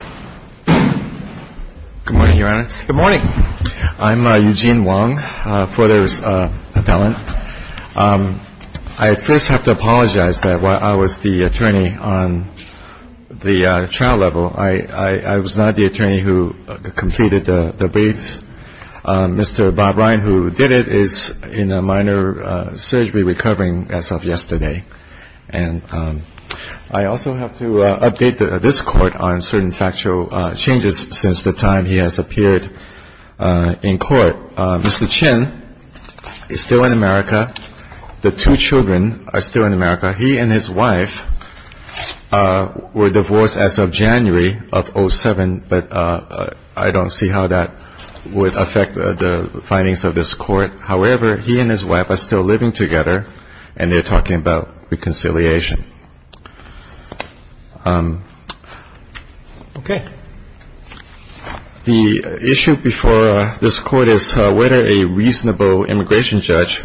Good morning, Your Honor. Good morning. I'm Eugene Wong, Fodor's appellant. I first have to apologize that while I was the attorney on the trial level, I was not the attorney who completed the brief. Mr. Bob Ryan, who did it, is in a minor surgery recovering as of yesterday. And I also have to update this Court on certain factual changes since the time he has appeared in court. Mr. Chin is still in America. The two children are still in America. He and his wife were divorced as of January of 2007, but I don't see how that would affect the findings of this Court. However, he and his wife are still living together, and they're talking about reconciliation. Okay. The issue before this Court is whether a reasonable immigration judge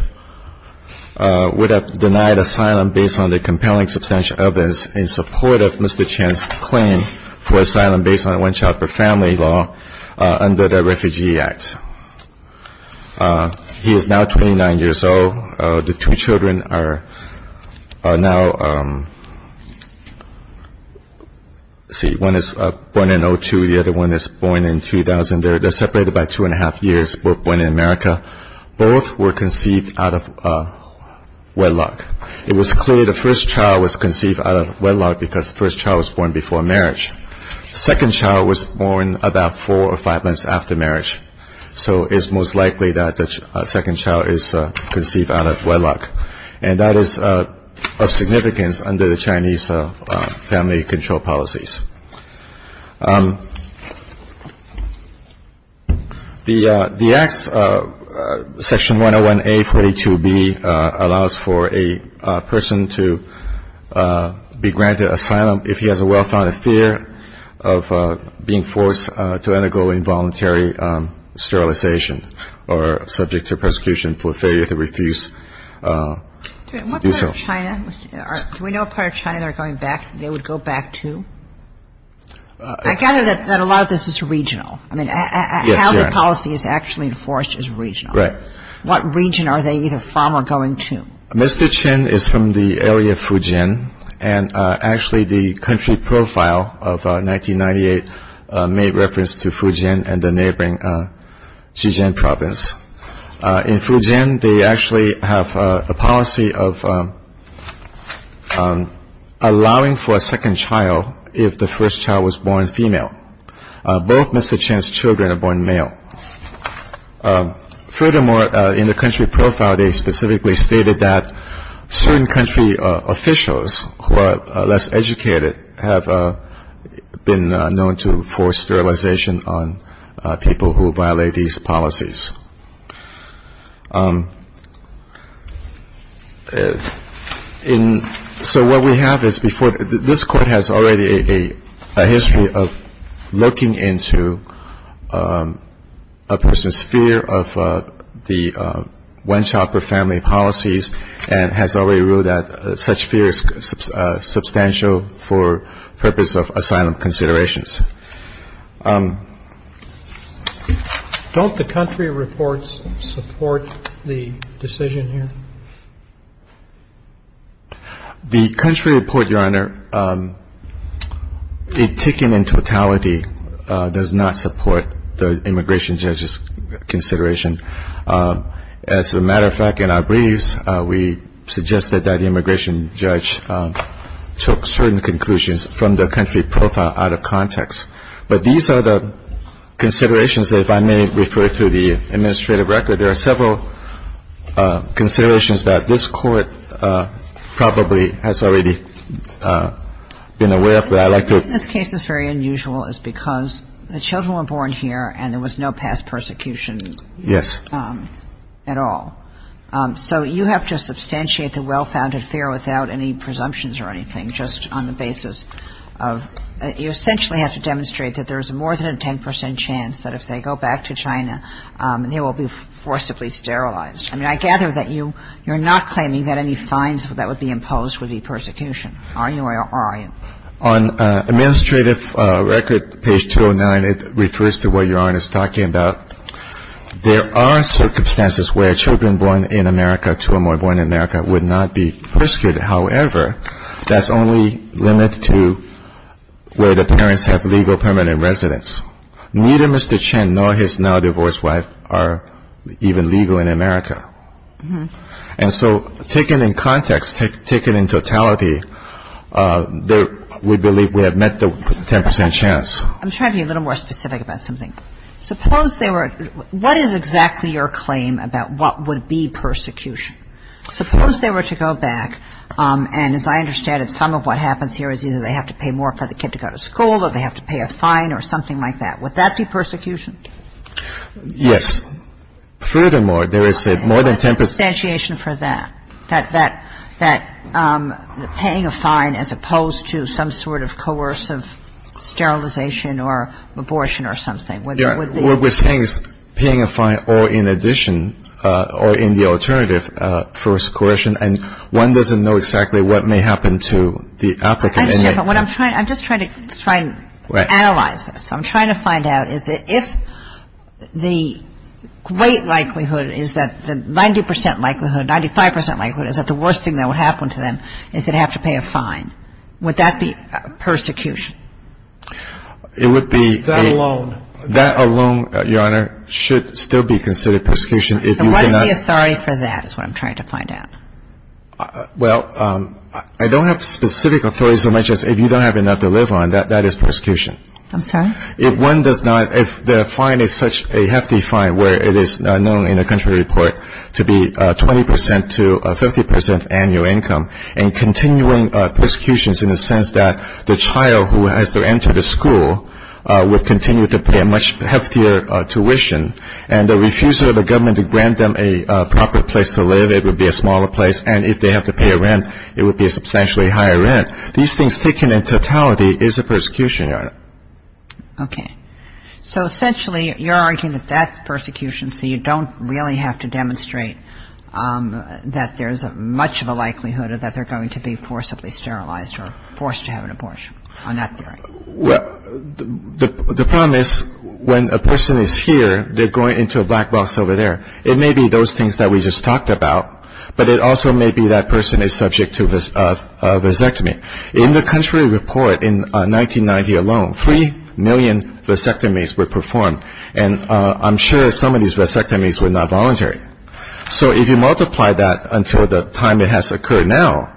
would have denied asylum based on the compelling substantial evidence in support of Mr. Chin's claim for asylum based on a one-child-per-family law under the Refugee Act. He is now 29 years old. The two children are now, let's see, one is born in 2002. The other one is born in 2000. They're separated by two and a half years, both born in America. Both were conceived out of wedlock. It was clear the first child was conceived out of wedlock because the first child was born before marriage. The second child was born about four or five months after marriage, so it's most likely that the second child is conceived out of wedlock. And that is of significance under the Chinese family control policies. The Act's Section 101A.42b allows for a person to be granted asylum if he has a well-founded fear of being forced to undergo involuntary sterilization or subject to persecution for failure to refuse to do so. Do we know what part of China they're going back to? I gather that a lot of this is regional. I mean, how the policy is actually enforced is regional. Right. What region are they either from or going to? Mr. Chen is from the area of Fujian, and actually the country profile of 1998 made reference to Fujian and the neighboring Jijian province. In Fujian, they actually have a policy of allowing for a second child if the first child was born female. Both Mr. Chen's children are born male. Furthermore, in the country profile, they specifically stated that certain country officials who are less educated have been known to force sterilization on people who violate these policies. So what we have is before this Court has already a history of looking into a person's fear of the one-child-per-family policies and has already ruled that such fear is substantial for purpose of asylum considerations. Don't the country reports support the decision here? The country report, Your Honor, it taken in totality does not support the immigration judge's consideration. As a matter of fact, in our briefs, we suggest that that immigration judge took certain conclusions from the country profile out of context. But these are the considerations that if I may refer to the administrative record, there are several considerations that this Court probably has already been aware of that I'd like to. This case is very unusual because the children were born here and there was no past persecution at all. Yes. So you have to substantiate the well-founded fear without any presumptions or anything, just on the basis of you essentially have to demonstrate that there is more than a 10 percent chance that if they go back to China, they will be forcibly sterilized. I mean, I gather that you're not claiming that any fines that would be imposed would be persecution. Are you or are you? On administrative record, page 209, it refers to what Your Honor is talking about. There are circumstances where children born in America, two or more born in America, would not be persecuted. However, that's only limited to where the parents have legal permanent residence. Neither Mr. Chen nor his now-divorced wife are even legal in America. And so taken in context, taken in totality, we believe we have met the 10 percent chance. I'm trying to be a little more specific about something. Suppose they were — what is exactly your claim about what would be persecution? Suppose they were to go back, and as I understand it, some of what happens here is either they have to pay more for the kid to go to school or they have to pay a fine or something like that. Would that be persecution? Yes. Furthermore, there is more than 10 percent — There is a substantiation for that, that paying a fine as opposed to some sort of coercive sterilization or abortion or something. What we're saying is paying a fine or in addition or in the alternative for coercion, and one doesn't know exactly what may happen to the applicant. I understand, but what I'm trying — I'm just trying to analyze this. I'm trying to find out is if the great likelihood is that the 90 percent likelihood, 95 percent likelihood, is that the worst thing that would happen to them is they'd have to pay a fine, would that be persecution? It would be — That alone. That alone, Your Honor, should still be considered persecution. And what is the authority for that is what I'm trying to find out. Well, I don't have specific authority so much as if you don't have enough to live on, that is persecution. I'm sorry? If one does not — if the fine is such a hefty fine where it is known in the country report to be 20 percent to 50 percent annual income and continuing persecutions in the sense that the child who has to enter the school would continue to pay a much heftier tuition and the refusal of the government to grant them a proper place to live, it would be a smaller place, and if they have to pay a rent, it would be a substantially higher rent, these things taken in totality is a persecution, Your Honor. Okay. So essentially, you're arguing that that's persecution, so you don't really have to demonstrate that there's much of a likelihood that they're going to be forcibly sterilized or forced to have an abortion on that theory. Well, the problem is when a person is here, they're going into a black box over there. It may be those things that we just talked about, but it also may be that person is subject to vasectomy. In the country report in 1990 alone, 3 million vasectomies were performed, and I'm sure some of these vasectomies were not voluntary. So if you multiply that until the time it has occurred now,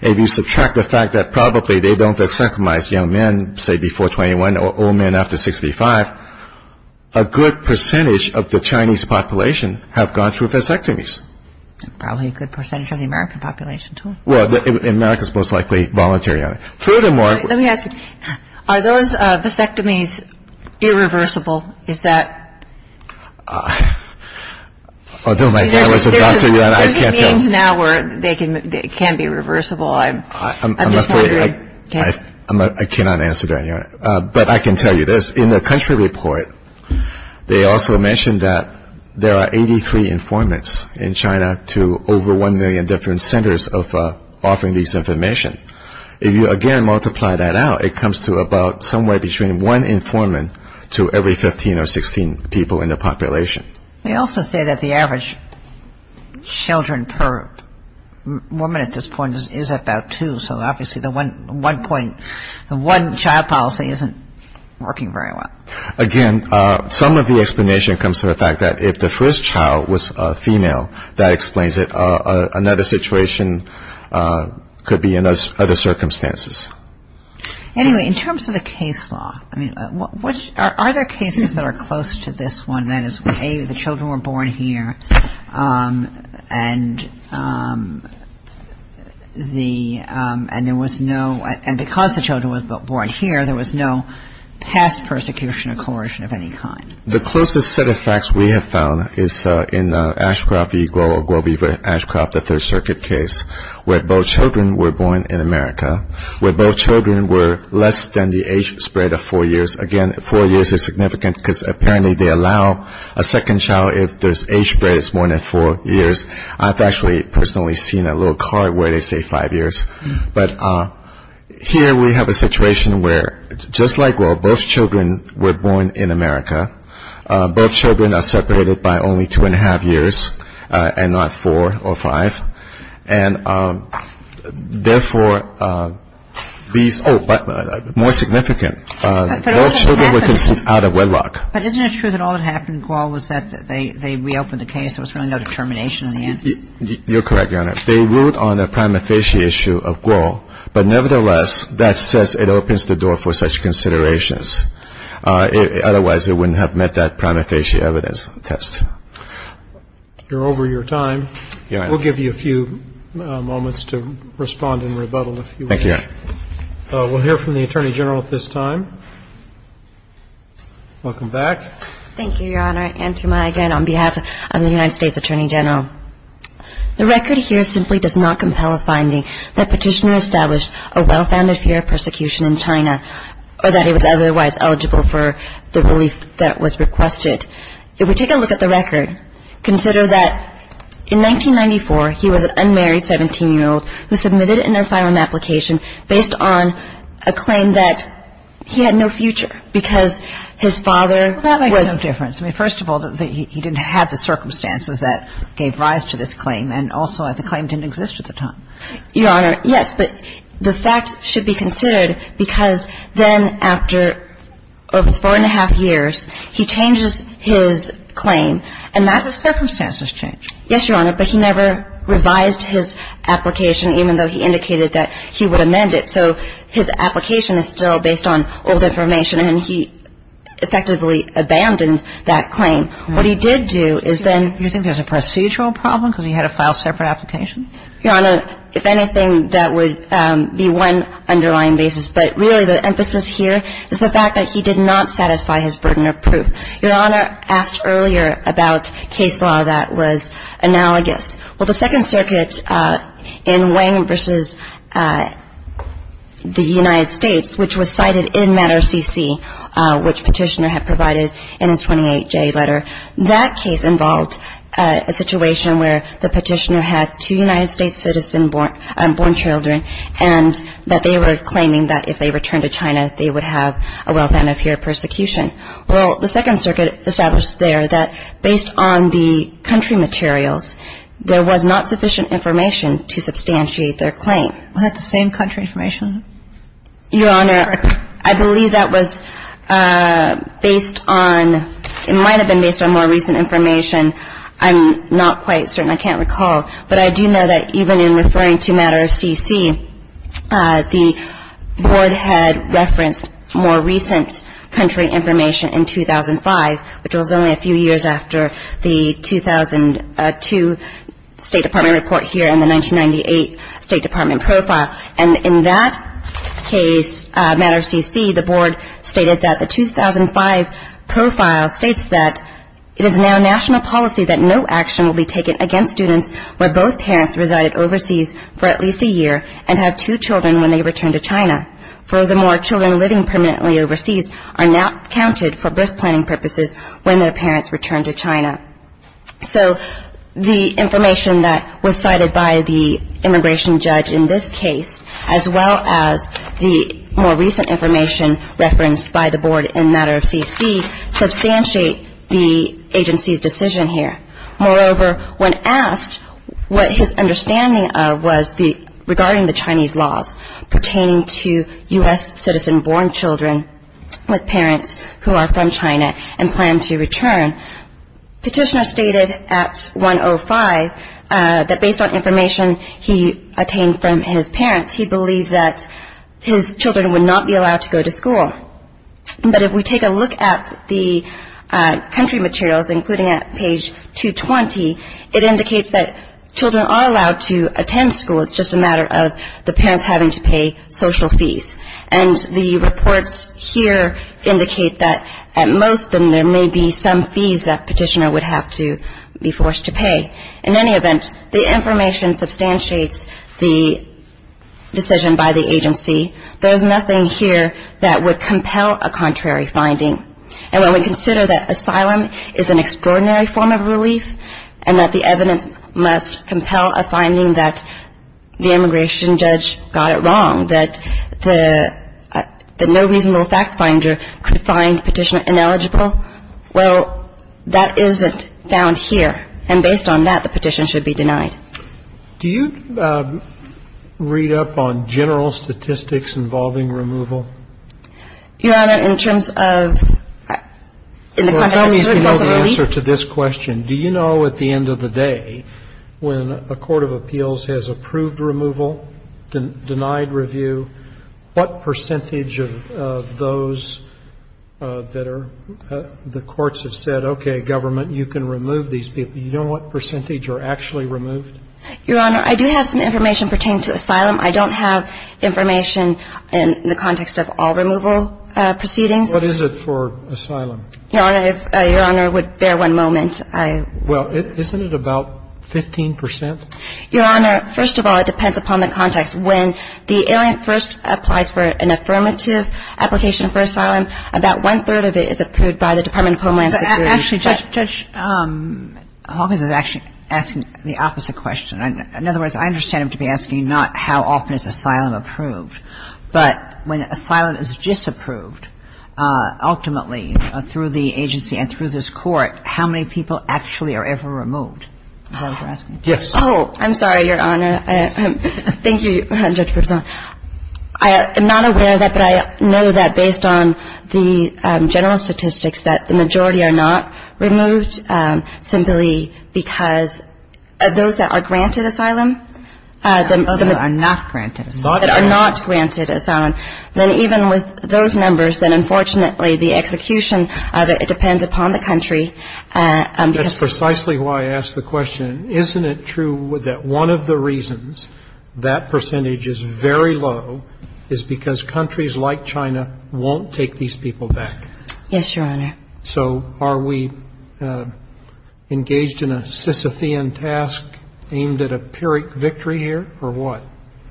if you subtract the fact that probably they don't vasectomize young men, say, before 21, or old men after 65, a good percentage of the Chinese population have gone through vasectomies. Probably a good percentage of the American population, too. Well, America's most likely voluntary on it. Furthermore- Let me ask you. Are those vasectomies irreversible? Is that- Although my dad was a doctor, Your Honor, I can't tell- There's a means now where it can be reversible. I'm just wondering. I'm afraid I cannot answer that, Your Honor. But I can tell you this. In the country report, they also mention that there are 83 informants in China to over 1 million different centers of offering this information. If you, again, multiply that out, it comes to about somewhere between one informant to every 15 or 16 people in the population. They also say that the average children per woman at this point is about two, so obviously the one-child policy isn't working very well. Again, some of the explanation comes to the fact that if the first child was female, that explains it. Another situation could be in other circumstances. Anyway, in terms of the case law, I mean, are there cases that are close to this one, that is, A, the children were born here and there was no- and because the children were born here, there was no past persecution or coercion of any kind? The closest set of facts we have found is in Ashcroft v. Guo or Guo v. Ashcroft, the Third Circuit case, where both children were born in America, where both children were less than the age spread of four years. Again, four years is significant because apparently they allow a second child if the age spread is more than four years. I've actually personally seen a little card where they say five years. But here we have a situation where just like Guo, both children were born in America. Both children are separated by only two-and-a-half years and not four or five. And therefore, these – oh, but more significant, both children were conceived out of wedlock. But isn't it true that all that happened, Guo, was that they reopened the case, there was really no determination in the end? You're correct, Your Honor. They ruled on the prima facie issue of Guo. But nevertheless, that says it opens the door for such considerations. Otherwise, it wouldn't have met that prima facie evidence test. You're over your time. We'll give you a few moments to respond and rebuttal if you wish. Thank you, Your Honor. We'll hear from the Attorney General at this time. Welcome back. Thank you, Your Honor. On behalf of the United States Attorney General. The record here simply does not compel a finding that Petitioner established a well-founded fear of persecution in China or that he was otherwise eligible for the relief that was requested. If we take a look at the record, consider that in 1994, he was an unmarried 17-year-old who submitted an asylum application based on a claim that he had no future because his father was – first of all, he didn't have the circumstances that gave rise to this claim. And also, the claim didn't exist at the time. Your Honor, yes. But the facts should be considered because then after over four and a half years, he changes his claim. And that's a circumstances change. Yes, Your Honor. But he never revised his application even though he indicated that he would amend it. So his application is still based on old information, and he effectively abandoned that claim. What he did do is then – You think there's a procedural problem because he had to file a separate application? Your Honor, if anything, that would be one underlying basis. But really the emphasis here is the fact that he did not satisfy his burden of proof. Your Honor asked earlier about case law that was analogous. Well, the Second Circuit in Wang v. the United States, which was cited in Matter CC, which Petitioner had provided in his 28-J letter, that case involved a situation where the Petitioner had two United States citizen-born children and that they were claiming that if they returned to China, they would have a wealth and a fear of persecution. Well, the Second Circuit established there that based on the country materials, there was not sufficient information to substantiate their claim. Was that the same country information? Your Honor, I believe that was based on – it might have been based on more recent information. I'm not quite certain. I can't recall. But I do know that even in referring to Matter CC, the Board had referenced more recent country information in 2005, which was only a few years after the 2002 State Department report here and the 1998 State Department profile. And in that case, Matter CC, the Board stated that the 2005 profile states that it is now national policy that no action will be taken against students where both parents resided overseas for at least a year and have two children when they return to China. Furthermore, children living permanently overseas are not counted for birth planning purposes when their parents return to China. So the information that was cited by the immigration judge in this case, as well as the more recent information referenced by the Board in Matter CC, does not really substantiate the agency's decision here. Moreover, when asked what his understanding was regarding the Chinese laws pertaining to U.S. citizen-born children with parents who are from China and plan to return, Petitioner stated at 105 that based on information he obtained from his parents, he believed that his children would not be allowed to go to school. But if we take a look at the country materials, including at page 220, it indicates that children are allowed to attend school. It's just a matter of the parents having to pay social fees. And the reports here indicate that at most of them, there may be some fees that Petitioner would have to be forced to pay. In any event, the information substantiates the decision by the agency. There's nothing here that would compel a contrary finding. And when we consider that asylum is an extraordinary form of relief and that the evidence must compel a finding that the immigration judge got it wrong, that the no reasonable fact finder could find Petitioner ineligible, well, that isn't found here. And based on that, the petition should be denied. Do you read up on general statistics involving removal? Your Honor, in terms of in the context of certain forms of relief? Well, I don't even know the answer to this question. Do you know at the end of the day when a court of appeals has approved removal, denied review, what percentage of those that are the courts have said, okay, government, you can remove these people. You don't know what percentage are actually removed? Your Honor, I do have some information pertaining to asylum. I don't have information in the context of all removal proceedings. What is it for asylum? Your Honor, if Your Honor would bear one moment. Well, isn't it about 15 percent? Your Honor, first of all, it depends upon the context. When the alien first applies for an affirmative application for asylum, about one-third of it is approved by the Department of Homeland Security. Actually, Judge Hawkins is actually asking the opposite question. In other words, I understand him to be asking not how often is asylum approved, but when asylum is disapproved, ultimately, through the agency and through this court, how many people actually are ever removed? Is that what you're asking? Yes. Oh, I'm sorry, Your Honor. Thank you, Judge Berzon. I am not aware of that, but I know that based on the general statistics, that the majority are not removed simply because of those that are granted asylum. Those that are not granted asylum. Not granted asylum. Then even with those numbers, then unfortunately, the execution of it, it depends upon the country. That's precisely why I asked the question. Isn't it true that one of the reasons that percentage is very low is because countries like China won't take these people back? Yes, Your Honor. So are we engaged in a Sisyphean task aimed at a Pyrrhic victory here, or what?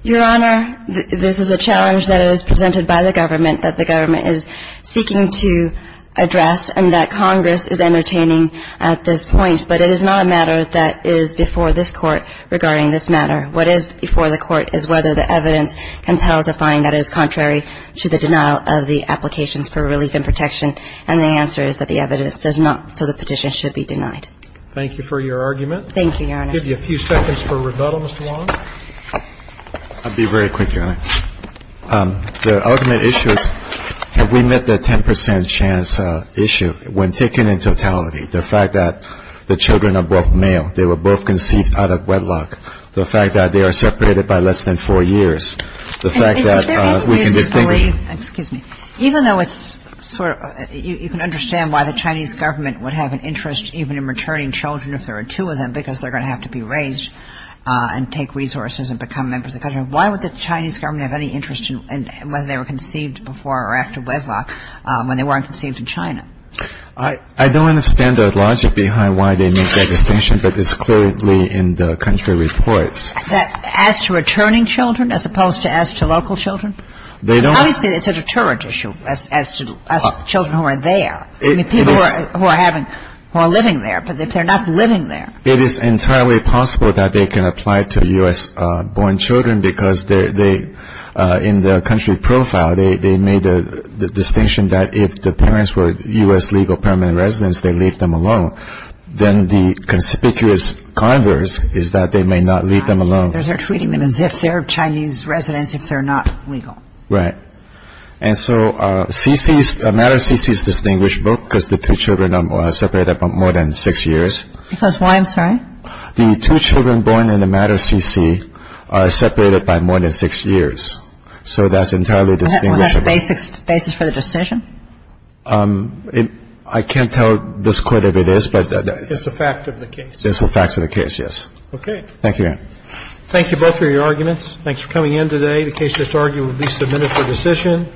Your Honor, this is a challenge that is presented by the government that the government is seeking to address and that Congress is entertaining at this point. But it is not a matter that is before this court regarding this matter. What is before the court is whether the evidence compels a fine that is contrary to the denial of the applications for relief and protection. And the answer is that the evidence does not, so the petition should be denied. Thank you for your argument. Thank you, Your Honor. I'll give you a few seconds for rebuttal, Mr. Wong. I'll be very quick, Your Honor. The ultimate issue is have we met the 10 percent chance issue when taken in totality, the fact that the children are both male, they were both conceived out of wedlock, the fact that they are separated by less than four years, the fact that we can distinguish Is there any reason to believe, excuse me, even though it's sort of you can understand why the Chinese government would have an interest even in returning children if there were two of them because they're going to have to be raised and take resources and become members of the country, why would the Chinese government have any interest in whether they were conceived before or after wedlock when they weren't conceived in China? I don't understand the logic behind why they make that distinction, but it's clearly in the country reports. As to returning children as opposed to as to local children? They don't Obviously, it's a deterrent issue as to children who are there, people who are living there, but if they're not living there It is entirely possible that they can apply to U.S.-born children because in the country profile they made the distinction that if the parents were U.S. legal permanent residents, they leave them alone. Then the conspicuous converse is that they may not leave them alone. They're treating them as if they're Chinese residents if they're not legal. Right. And so a matter of CC is distinguishable because the two children are separated by more than six years. Because why, I'm sorry? The two children born in a matter of CC are separated by more than six years. So that's entirely distinguishable. Is that the basis for the decision? I can't tell just quite what it is, but It's a fact of the case. It's a fact of the case, yes. Okay. Thank you, ma'am. Thank you both for your arguments. Thanks for coming in today. The case just argued will be submitted for decision.